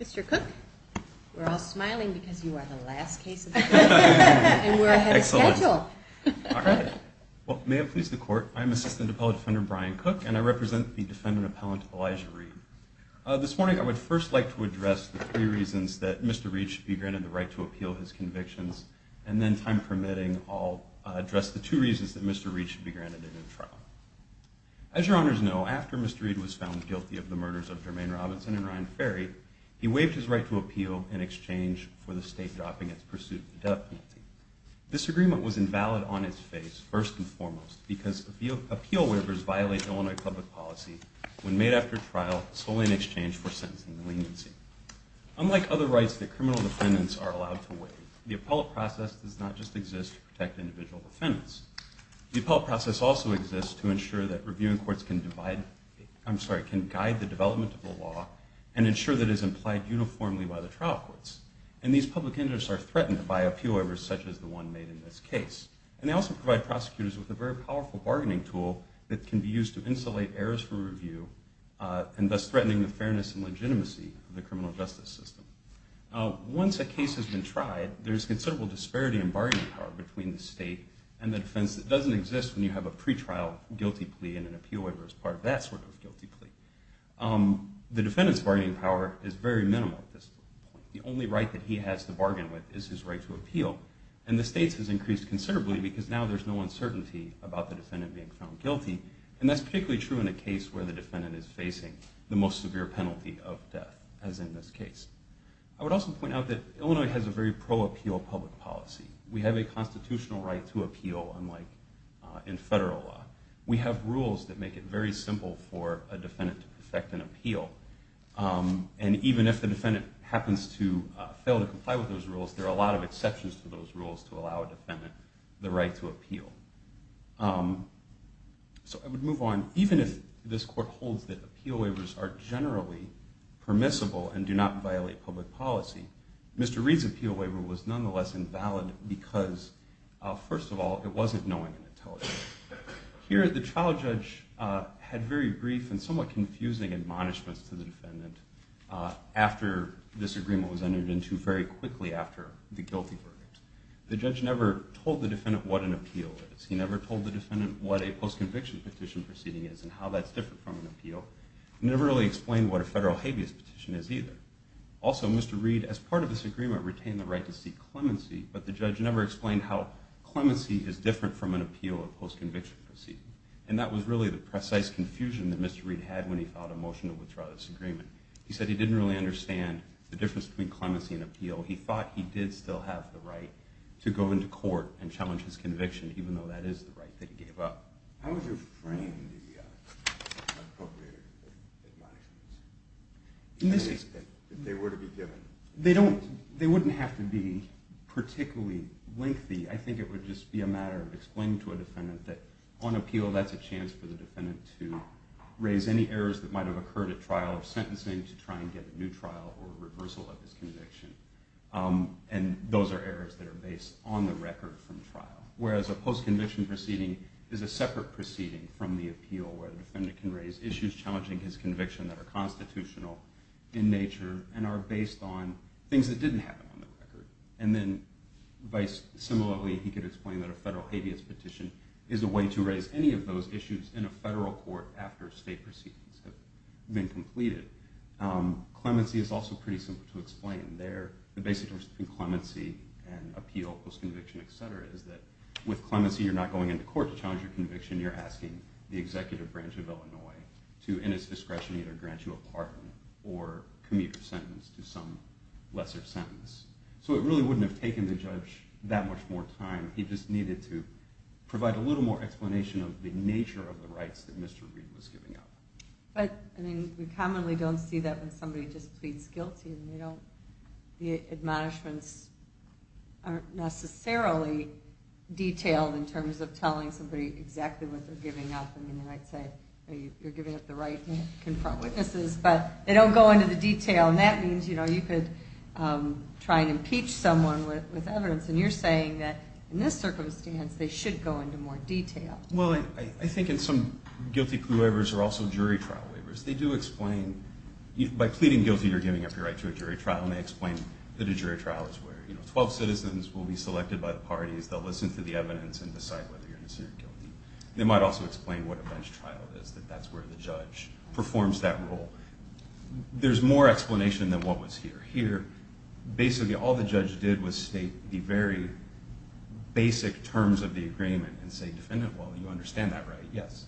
Mr. Cook, we're all smiling because you are the last case of the day and we're ahead of schedule. May it please the court, I'm Assistant Appellate Defender Brian Cook and I represent the defendant appellant Elijah Reid. This morning I would first like to address the three reasons that Mr. Reid should be granted the right to appeal his convictions, and then time permitting I'll address the two reasons that Mr. Reid should be granted a new trial. As your honors know, after Mr. Reid was found guilty of the murders of Jermaine Robinson and Ryan Ferry, he waived his right to appeal in exchange for the state dropping its pursuit of the death penalty. This agreement was invalid on its face, first and foremost, because appeal waivers violate Illinois public policy when made after trial solely in exchange for sentencing leniency. Unlike other rights that criminal defendants are allowed to waive, the appellate process does not just exist to protect individual defendants. The appellate process also exists to ensure that reviewing courts can divide, I'm sorry, can guide the development of the law and ensure that it is implied uniformly by the trial courts. And these public interests are threatened by appeal waivers such as the one made in this case. And they also provide prosecutors with a very powerful bargaining tool that can be used to insulate errors for review and thus threatening the fairness and legitimacy of the criminal justice system. Once a case has been tried, there's considerable disparity in bargaining power between the state and the defense that doesn't exist when you have a pretrial guilty plea and an appeal waiver as part of that sort of guilty plea. The defendant's bargaining power is very minimal at this point. The only right that he has to bargain with is his right to appeal. And the state's has increased considerably because now there's no uncertainty about the defendant being found guilty. And that's particularly true in a case where the defendant is facing the most severe penalty of death, as in this case. I would also point out that Illinois has a very pro-appeal public policy. We have a constitutional right to appeal unlike in federal law. We have rules that make it very simple for a defendant to perfect an appeal. And even if the defendant happens to fail to comply with those rules, there are a lot of exceptions to those rules to allow a defendant the right to appeal. So I would move on. Even if this court holds that appeal waivers are generally permissible and do not violate public policy, Mr. Reed's appeal waiver was nonetheless invalid because, first of all, it wasn't knowing and intelligent. Here, the trial judge had very brief and somewhat confusing admonishments to the defendant after this agreement was entered into very quickly after the guilty verdict. The judge never told the defendant what an appeal is. He never told the defendant what a post-conviction petition proceeding is and how that's different from an appeal. He never really explained what a federal habeas petition is either. Also, Mr. Reed, as part of this agreement, retained the right to seek clemency, but the judge never explained how clemency is different from an appeal or post-conviction proceeding. And that was really the precise confusion that Mr. Reed had when he filed a motion to withdraw this agreement. He said he didn't really understand the difference between clemency and appeal. He thought he did still have the right to go into court and challenge his conviction, even though that is the right that he gave up. How would you frame the appropriated admonishments, if they were to be given? They wouldn't have to be particularly lengthy. I think it would just be a matter of explaining to a defendant that on appeal, that's a chance for the defendant to raise any errors that might have occurred at trial or sentencing to try and get a new trial or reversal of his conviction. And those are errors that are based on the record from trial, whereas a post-conviction proceeding is a separate proceeding from the appeal where the defendant can raise issues challenging his conviction that are constitutional in nature and are based on things that didn't happen on the record. And then similarly, he could explain that a federal habeas petition is a way to raise any of those issues in a federal court after state proceedings have been completed. Clemency is also pretty simple to explain. The basic difference between clemency and appeal, post-conviction, etc., is that with clemency you're not going into court to challenge your conviction. You're asking the executive branch of Illinois to, in its discretion, either grant you a pardon or commute your sentence to some lesser sentence. So it really wouldn't have taken the judge that much more time. He just needed to provide a little more explanation of the nature of the rights that Mr. Reid was giving up. But we commonly don't see that when somebody just pleads guilty. The admonishments aren't necessarily detailed in terms of telling somebody exactly what they're giving up. I mean, they might say, you're giving up the right to confront witnesses, but they don't go into the detail. And that means you could try and impeach someone with evidence. And you're saying that in this circumstance they should go into more detail. Well, I think in some guilty plea waivers are also jury trial waivers. They do explain, by pleading guilty you're giving up your right to a jury trial, and they explain that a jury trial is where 12 citizens will be selected by the parties. They'll listen to the evidence and decide whether you're innocent or guilty. They might also explain what a bench trial is, that that's where the judge performs that role. There's more explanation than what was here. Here, basically all the judge did was state the very basic terms of the agreement and say, defendant, well, you understand that, right? Yes.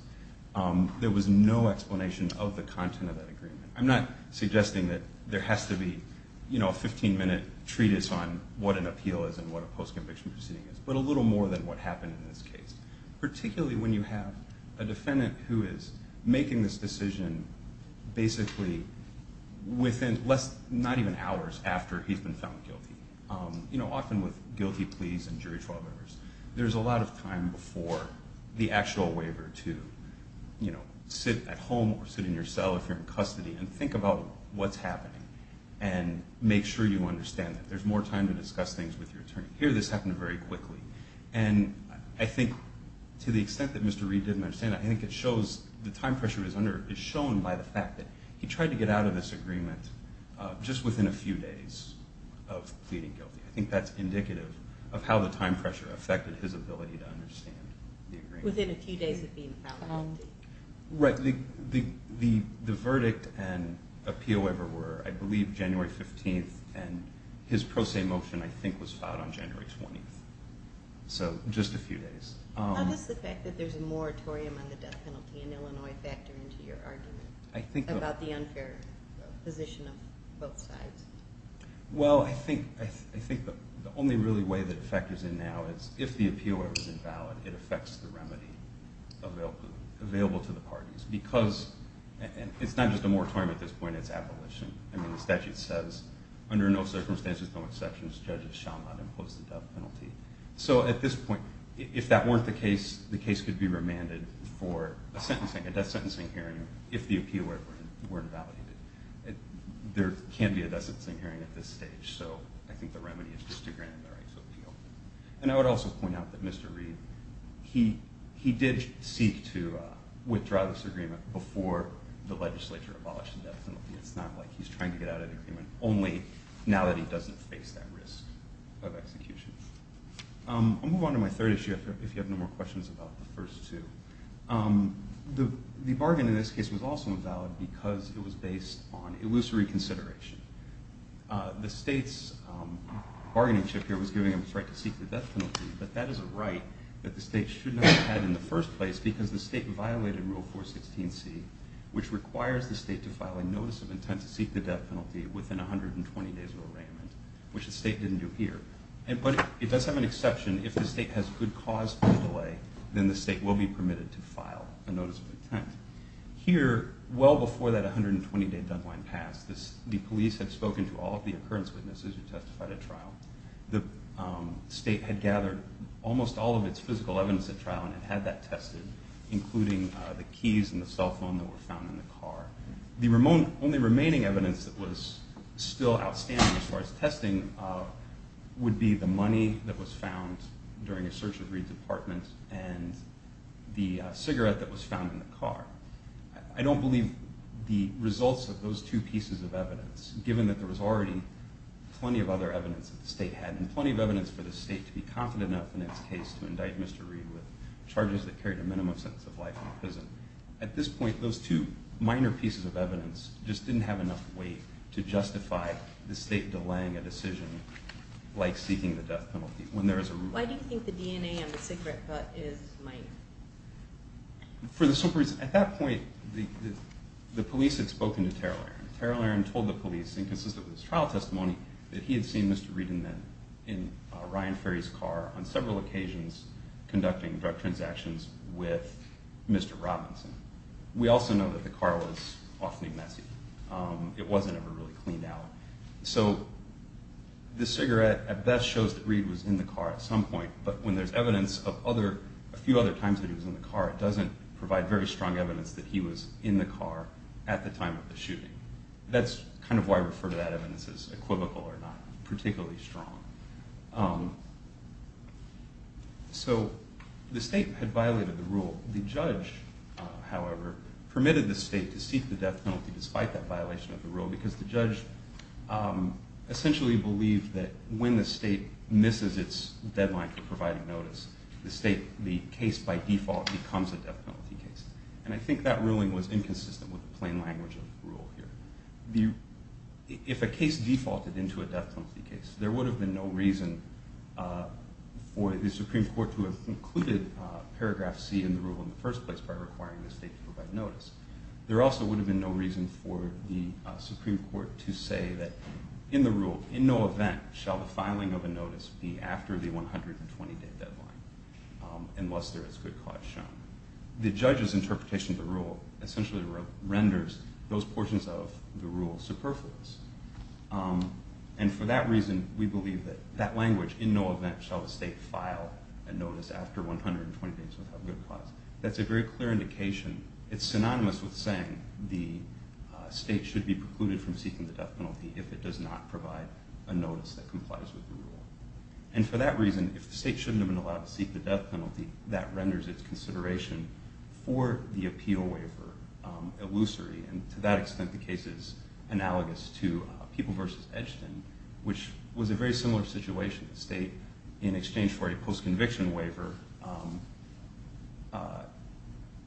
There was no explanation of the content of that agreement. I'm not suggesting that there has to be a 15-minute treatise on what an appeal is and what a post-conviction proceeding is, but a little more than what happened in this case. Particularly when you have a defendant who is making this decision basically within less, not even hours after he's been found guilty. You know, often with guilty pleas and jury trial waivers, there's a lot of time before the actual waiver to sit at home or sit in your cell if you're in custody and think about what's happening and make sure you understand that. There's more time to discuss things with your attorney. Here this happened very quickly. And I think to the extent that Mr. Reed didn't understand that, I think it shows the time pressure is shown by the fact that he tried to get out of this agreement just within a few days of pleading guilty. I think that's indicative of how the time pressure affected his ability to understand the agreement. Within a few days of being found guilty. Right. The verdict and appeal waiver were, I believe, January 15th, and his pro se motion, I think, was filed on January 20th. So just a few days. How does the fact that there's a moratorium on the death penalty in Illinois factor into your argument about the unfair position of both sides? Well, I think the only really way that it factors in now is if the appeal waiver is invalid, it affects the remedy available to the parties. Because it's not just a moratorium at this point, it's abolition. I mean, the statute says, under no circumstances, no exceptions, judges shall not impose the death penalty. So at this point, if that weren't the case, the case could be remanded for a death sentencing hearing if the appeal were invalidated. There can't be a death sentencing hearing at this stage. So I think the remedy is just to grant the right to appeal. And I would also point out that Mr. Reed, he did seek to withdraw this agreement before the legislature abolished the death penalty. It's not like he's trying to get out of the agreement only now that he doesn't face that risk of execution. I'll move on to my third issue if you have no more questions about the first two. The bargain in this case was also invalid because it was based on illusory consideration. The state's bargaining chip here was giving them the right to seek the death penalty, but that is a right that the state should not have had in the first place because the state violated Rule 416C, which requires the state to file a notice of intent to seek the death penalty within 120 days of arraignment, which the state didn't do here. But it does have an exception. If the state has good cause for delay, then the state will be permitted to file a notice of intent. Here, well before that 120-day deadline passed, the police had spoken to all of the occurrence witnesses who testified at trial. The state had gathered almost all of its physical evidence at trial and had that tested, including the keys and the cell phone that were found in the car. The only remaining evidence that was still outstanding as far as testing would be the money that was found during a search of Reed's apartment and the cigarette that was found in the car. I don't believe the results of those two pieces of evidence, given that there was already plenty of other evidence that the state had and plenty of evidence for the state to be confident enough in its case to indict Mr. Reed with charges that carried a minimum sentence of life in prison. At this point, those two minor pieces of evidence just didn't have enough weight to justify the state delaying a decision like seeking the death penalty. Why do you think the DNA on the cigarette butt is mine? For the simple reason, at that point, the police had spoken to Terrell Aaron. Terrell Aaron told the police, inconsistent with his trial testimony, that he had seen Mr. Reed in Ryan Ferry's car on several occasions conducting drug transactions with Mr. Robinson. We also know that the car was awfully messy. It wasn't ever really cleaned out. So the cigarette at best shows that Reed was in the car at some point, but when there's evidence of a few other times that he was in the car, it doesn't provide very strong evidence that he was in the car at the time of the shooting. That's kind of why I refer to that evidence as equivocal or not particularly strong. So the state had violated the rule. The judge, however, permitted the state to seek the death penalty despite that violation of the rule because the judge essentially believed that when the state misses its deadline for providing notice, the case by default becomes a death penalty case. And I think that ruling was inconsistent with the plain language of the rule here. If a case defaulted into a death penalty case, there would have been no reason for the Supreme Court to have included paragraph C in the rule in the first place by requiring the state to provide notice. There also would have been no reason for the Supreme Court to say that in the rule, in no event shall the filing of a notice be after the 120-day deadline unless there is good cause shown. The judge's interpretation of the rule essentially renders those portions of the rule superfluous. And for that reason, we believe that that language, in no event shall the state file a notice after 120 days without good cause, that's a very clear indication. It's synonymous with saying the state should be precluded from seeking the death penalty if it does not provide a notice that complies with the rule. And for that reason, if the state shouldn't have been allowed to seek the death penalty, that renders its consideration for the appeal waiver illusory. And to that extent, the case is analogous to People v. Edgton, which was a very similar situation. The state, in exchange for a post-conviction waiver,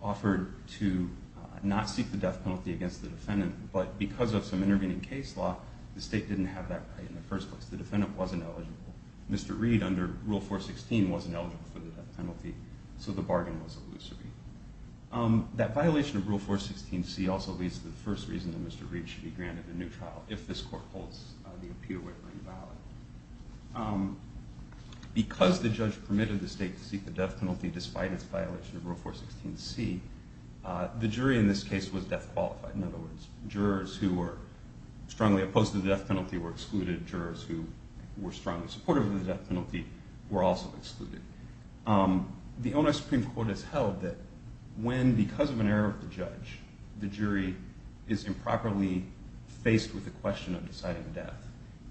offered to not seek the death penalty against the defendant, but because of some intervening case law, the state didn't have that right in the first place. The defendant wasn't eligible. Mr. Reed, under Rule 416, wasn't eligible for the death penalty, so the bargain was illusory. That violation of Rule 416c also leads to the first reason that Mr. Reed should be granted a new trial if this court holds the appeal waiver invalid. Because the judge permitted the state to seek the death penalty despite its violation of Rule 416c, the jury in this case was death-qualified. In other words, jurors who were strongly opposed to the death penalty were excluded. Jurors who were strongly supportive of the death penalty were also excluded. The ONS Supreme Court has held that when, because of an error of the judge, the jury is improperly faced with the question of deciding death,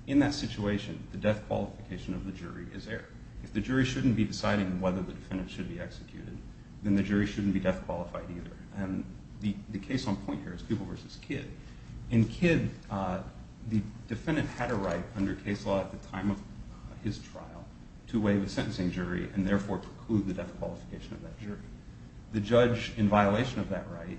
in that situation, the death qualification of the jury is errored. If the jury shouldn't be deciding whether the defendant should be executed, then the jury shouldn't be death-qualified either. The case on point here is Peeble v. Kidd. In Kidd, the defendant had a right under case law at the time of his trial to waive a sentencing jury and therefore preclude the death qualification of that jury. The judge, in violation of that right,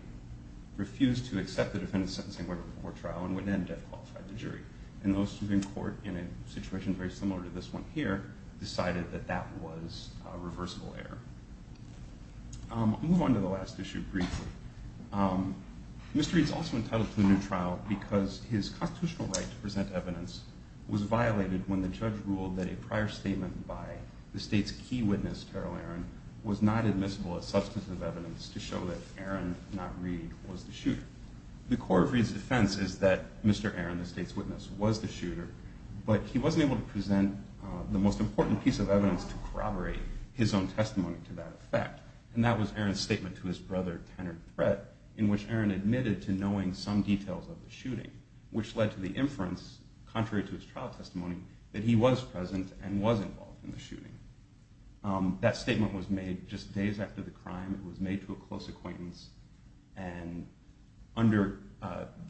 refused to accept the defendant's sentencing waiver before trial and would then death-qualify the jury. And the Supreme Court, in a situation very similar to this one here, decided that that was a reversible error. I'll move on to the last issue briefly. Mr. Reed is also entitled to a new trial because his constitutional right to present evidence was violated when the judge ruled that a prior statement by the state's key witness, Carol Aaron, was not admissible as substantive evidence to show that Aaron, not Reed, was the shooter. The core of Reed's defense is that Mr. Aaron, the state's witness, was the shooter, but he wasn't able to present the most important piece of evidence to corroborate his own testimony to that effect. And that was Aaron's statement to his brother, Tanner Threat, in which Aaron admitted to knowing some details of the shooting, which led to the inference, contrary to his trial testimony, that he was present and was involved in the shooting. That statement was made just days after the crime. It was made to a close acquaintance. And under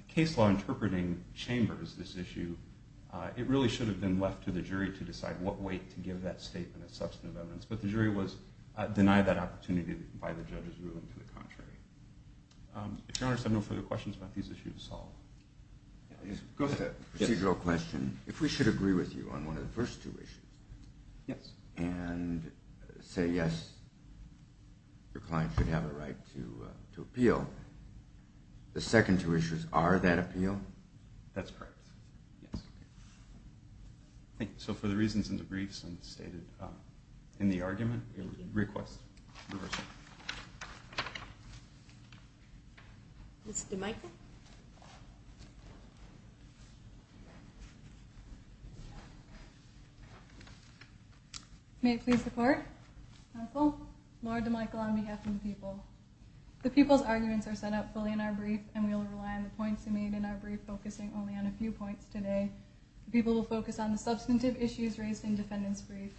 case law interpreting chambers, this issue, it really should have been left to the jury to decide what weight to give that statement as substantive evidence. But the jury denied that opportunity by the judge's ruling to the contrary. If Your Honor has no further questions about these issues to solve. Go ahead. Procedural question. If we should agree with you on one of the first two issues. Yes. And say, yes, your client should have a right to appeal. The second two issues, are that appeal? That's correct. Yes. Thank you. So for the reasons in the briefs and stated in the argument, we request reversal. Ms. DeMichel. May it please the court. Lord DeMichel on behalf of the people. The people's arguments are set up fully in our brief and we will rely on the points made in our brief, focusing only on a few points today. The people will focus on the substantive issues raised in defendant's brief.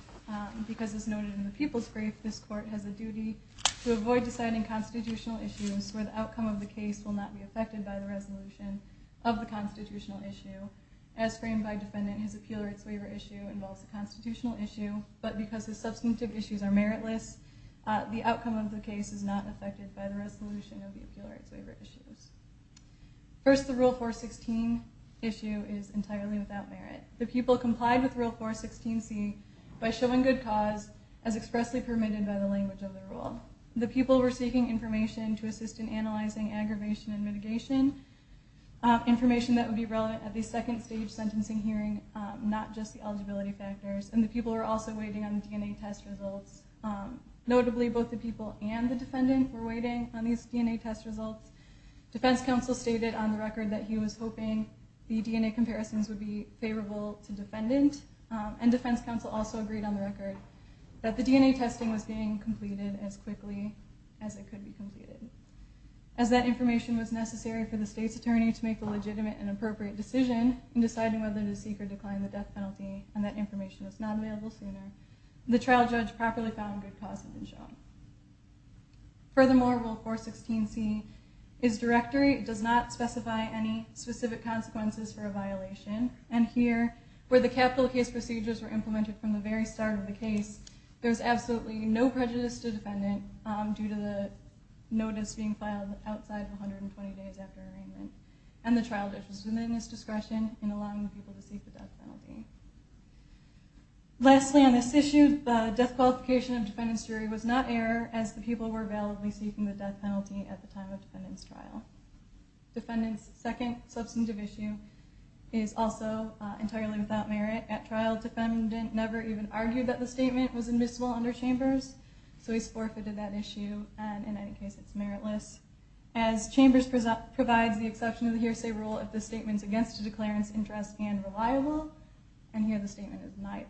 Because as noted in the people's brief, this court has a duty to avoid deciding constitutional issues where the outcome of the case will not be affected by the resolution of the constitutional issue. As framed by defendant, his appeal rights waiver issue involves a constitutional issue, but because his substantive issues are meritless, the outcome of the case is not affected by the resolution of the appeal rights waiver issues. First, the Rule 416 issue is entirely without merit. The people complied with Rule 416C by showing good cause as expressly permitted by the language of the rule. The people were seeking information to assist in analyzing aggravation and mitigation, information that would be relevant at the second stage sentencing hearing, not just the eligibility factors. And the people were also waiting on DNA test results. Notably, both the people and the defendant were waiting on these DNA test results. Defense counsel stated on the record that he was hoping the DNA comparisons would be favorable to defendant, and defense counsel also agreed on the record that the DNA testing was being completed as quickly as it could be completed. As that information was necessary for the state's attorney to make the legitimate and appropriate decision in deciding whether to seek or decline the death penalty, and that information was not available sooner, the trial judge properly found good cause had been shown. Furthermore, Rule 416C's directory does not specify any specific consequences for a violation. And here, where the capital case procedures were implemented from the very start of the case, there's absolutely no prejudice to defendant due to the notice being filed outside 120 days after arraignment. And the trial judge was within his discretion in allowing the people to seek the death penalty. Lastly on this issue, the death qualification of defendant's jury was not error, as the people were validly seeking the death penalty at the time of defendant's trial. Defendant's second substantive issue is also entirely without merit. At trial, defendant never even argued that the statement was admissible under Chambers, so he's forfeited that issue, and in any case, it's meritless. As Chambers provides the exception of the hearsay rule if the statement's against a declarant's interest and reliable, and here the statement is neither.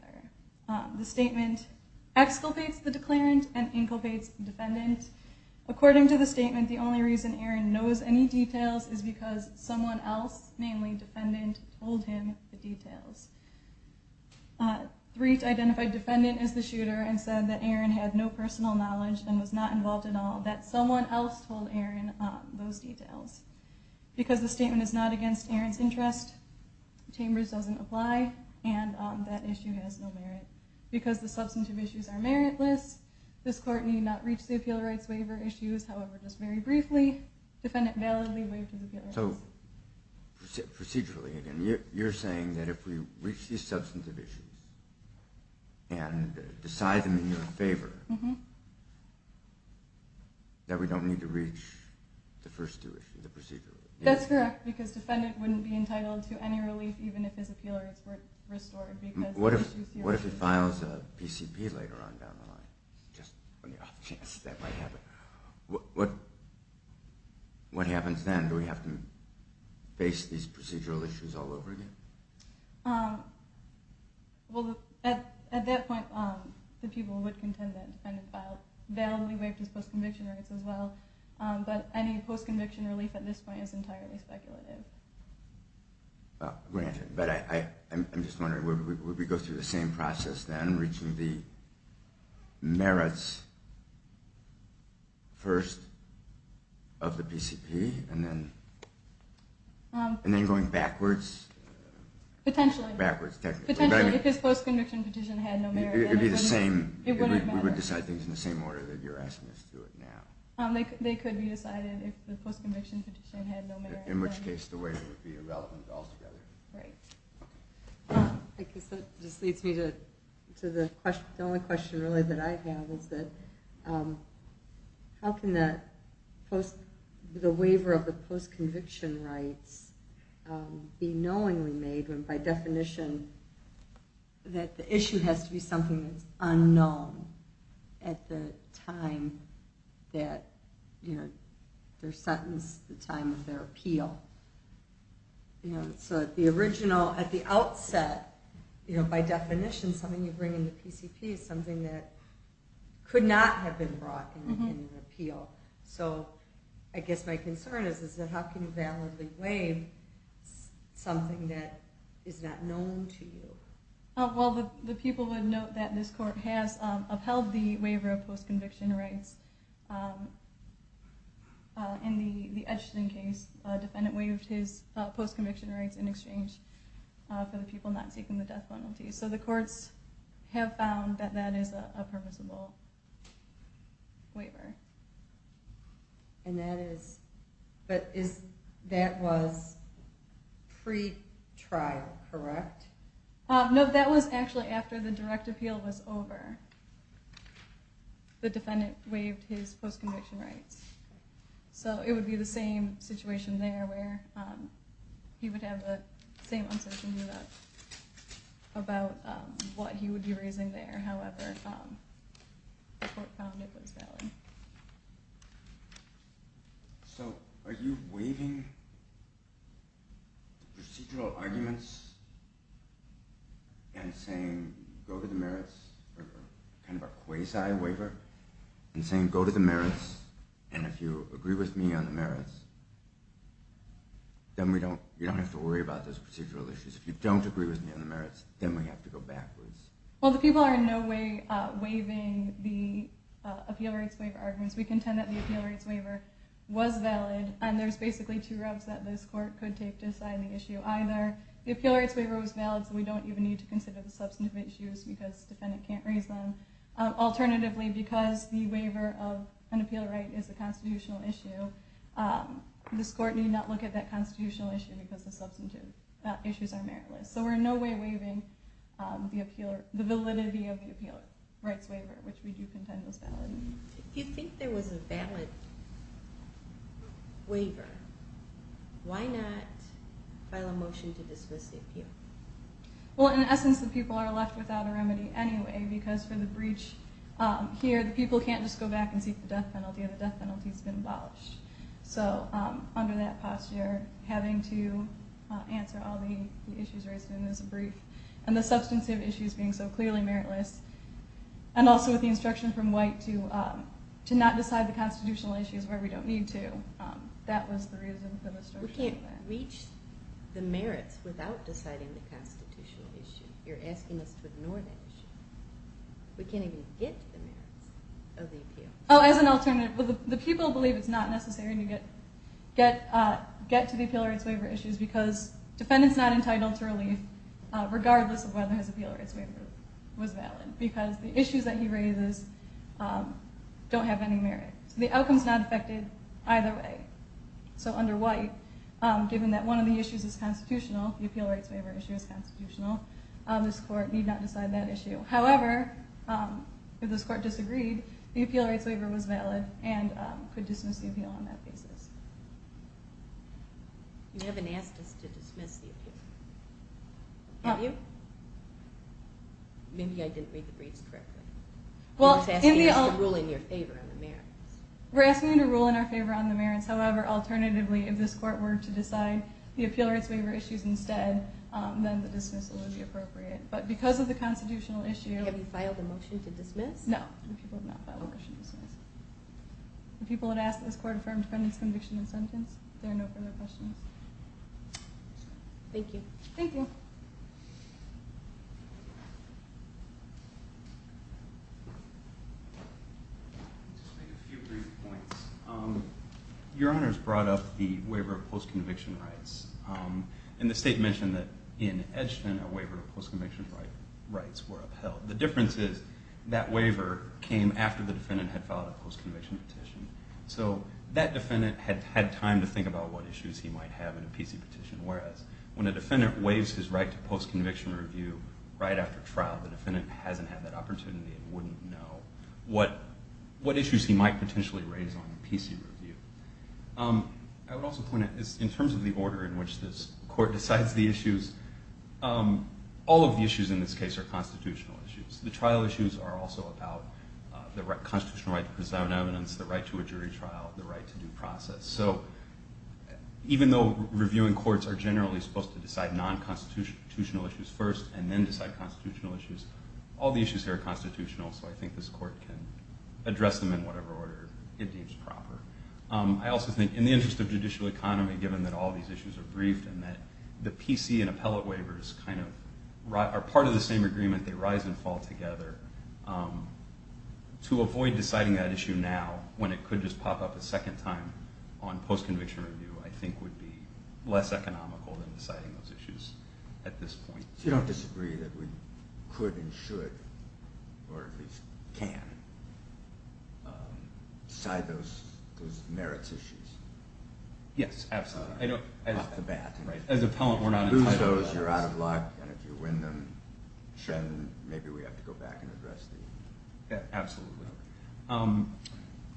The statement exculpates the declarant and inculpates defendant. According to the statement, the only reason Aaron knows any details is because someone else, namely defendant, told him the details. Threatt identified defendant as the shooter and said that Aaron had no personal knowledge and was not involved at all, that someone else told Aaron those details. Because the statement is not against Aaron's interest, Chambers doesn't apply, and that issue has no merit. Because the substantive issues are meritless, this court need not reach the appeal rights waiver issues. However, just very briefly, defendant validly waived his appeal rights. So procedurally, you're saying that if we reach these substantive issues and decide them in your favor, that we don't need to reach the first two issues, the procedural issues? That's correct, because defendant wouldn't be entitled to any relief even if his appeal rights were restored. What if he files a PCP later on down the line? Just on the off chance that might happen. What happens then? Do we have to face these procedural issues all over again? At that point, the people would contend that defendant validly waived his post-conviction rights as well, but any post-conviction relief at this point is entirely speculative. I'm just wondering, would we go through the same process then, reaching the merits first of the PCP, and then going backwards? Potentially, because post-conviction petition had no merit. It would be the same, we would decide things in the same order that you're asking us to do it now. They could be decided if the post-conviction petition had no merit. In which case, the waiver would be irrelevant altogether. Right. I guess that just leads me to the only question that I have. How can the waiver of the post-conviction rights be knowingly made, by definition, that the issue has to be something that's unknown at the time that they're sentenced, the time of their appeal. So at the outset, by definition, something you bring in the PCP is something that could not have been brought in an appeal. So I guess my concern is, how can you validly waive something that is not known to you? Well, the people would note that this court has upheld the waiver of post-conviction rights. In the Edgerton case, a defendant waived his post-conviction rights in exchange for the people not seeking the death penalty. So the courts have found that that is a purposeful waiver. And that was pre-trial, correct? No, that was actually after the direct appeal was over. The defendant waived his post-conviction rights. So it would be the same situation there, where he would have the same uncertainty about what he would be raising there. However, the court found it was valid. So are you waiving the procedural arguments and saying, go to the merits, or kind of a quasi-waiver, and saying, go to the merits, and if you agree with me on the merits, then you don't have to worry about those procedural issues. If you don't agree with me on the merits, then we have to go backwards. Well, the people are in no way waiving the appeal rights waiver arguments. We contend that the appeal rights waiver was valid, and there's basically two routes that this court could take to decide the issue either. The appeal rights waiver was valid, so we don't even need to consider the substantive issues, because the defendant can't raise them. Alternatively, because the waiver of an appeal right is a constitutional issue, this court need not look at that constitutional issue, because the substantive issues are meritless. So we're in no way waiving the validity of the appeal rights waiver, which we do contend was valid. If you think there was a valid waiver, why not file a motion to dismiss the appeal? Well, in essence, the people are left without a remedy anyway, because for the breach here, the people can't just go back and seek the death penalty, and the death penalty's been abolished. So under that posture, having to answer all the issues raised in this brief, and the substantive issues being so clearly meritless, and also with the instruction from White to not decide the constitutional issues where we don't need to, that was the reason for the structure of that. We can't reach the merits without deciding the constitutional issue. You're asking us to ignore that issue. We can't even get to the merits of the appeal. Oh, as an alternative, the people believe it's not necessary to get to the appeal rights waiver issues, because defendant's not entitled to relief, regardless of whether his appeal rights waiver was valid, because the issues that he raises don't have any merit. So the outcome's not affected either way. So under White, given that one of the issues is constitutional, the appeal rights waiver issue is constitutional, this court need not decide that issue. However, if this court disagreed, the appeal rights waiver was valid and could dismiss the appeal on that basis. You haven't asked us to dismiss the appeal. Have you? Maybe I didn't read the briefs correctly. We're asking you to rule in your favor on the merits. We're asking you to rule in our favor on the merits. However, alternatively, if this court were to decide the appeal rights waiver issues instead, then the dismissal would be appropriate. But because of the constitutional issue- Have you filed a motion to dismiss? No, the people have not filed a motion to dismiss. The people that asked this court for defendant's conviction and sentence, there are no further questions. Thank you. Thank you. Your Honors brought up the waiver of post-conviction rights. And the state mentioned that in Edgton, a waiver of post-conviction rights were upheld. The difference is that waiver came after the defendant had filed a post-conviction petition. So that defendant had time to think about what issues he might have in a PC petition, whereas when a defendant waives his right to post-conviction review right after trial, the defendant hasn't had that opportunity and wouldn't know what issues he might potentially raise on a PC review. I would also point out, in terms of the order in which this court decides the issues, all of the issues in this case are constitutional issues. The trial issues are also about the constitutional right to present evidence, the right to a jury trial, the right to due process. So even though reviewing courts are generally supposed to decide non-constitutional issues first and then decide constitutional issues, all the issues here are constitutional, so I think this court can address them in whatever order it deems proper. I also think, in the interest of judicial economy, given that all these issues are briefed and that the PC and appellate waivers are part of the same agreement, they rise and fall together, to avoid deciding that issue now when it could just pop up a second time on post-conviction review, I think would be less economical than deciding those issues at this point. So you don't disagree that we could and should, or at least can, decide those merits issues? Yes, absolutely. As appellant, we're not entitled to that. If you lose those, you're out of luck, and if you win them, maybe we have to go back and address them. Absolutely.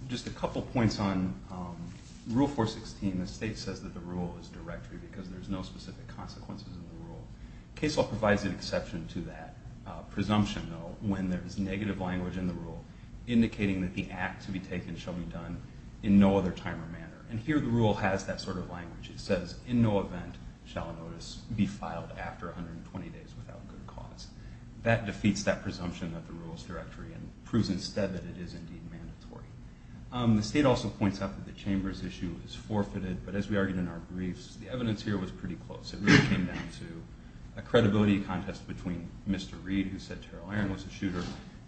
Just a couple points on Rule 416. The state says that the rule is directory because there's no specific consequences in the rule. Case law provides an exception to that presumption, though, when there's negative language in the rule indicating that the act to be taken shall be done in no other time or manner. And here the rule has that sort of language. It says, in no event shall a notice be filed after 120 days without good cause. That defeats that presumption of the rules directory and proves instead that it is indeed mandatory. The state also points out that the Chambers issue is forfeited, but as we argued in our briefs, the evidence here was pretty close. It really came down to a credibility contest between Mr. Reed, who said Terrell Aaron was the shooter,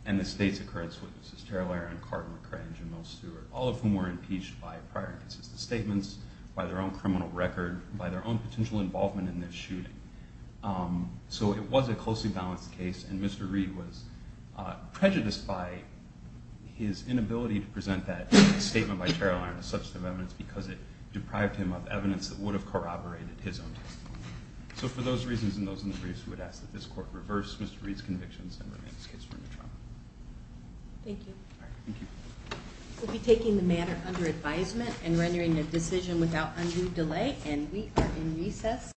and the state's occurrence witnesses, Terrell Aaron, Carter, McCrenge, and Mill Stewart, all of whom were impeached by prior and consistent statements, by their own criminal record, by their own potential involvement in this shooting. So it was a closely balanced case, and Mr. Reed was prejudiced by his inability to present that statement by Terrell Aaron as substantive evidence because it deprived him of evidence that would have corroborated his own testimony. So for those reasons and those in the briefs, we would ask that this court reverse Mr. Reed's convictions and rename his case for new trial. Thank you. Thank you. We'll be taking the matter under advisement and rendering a decision without undue delay, and we are in recess.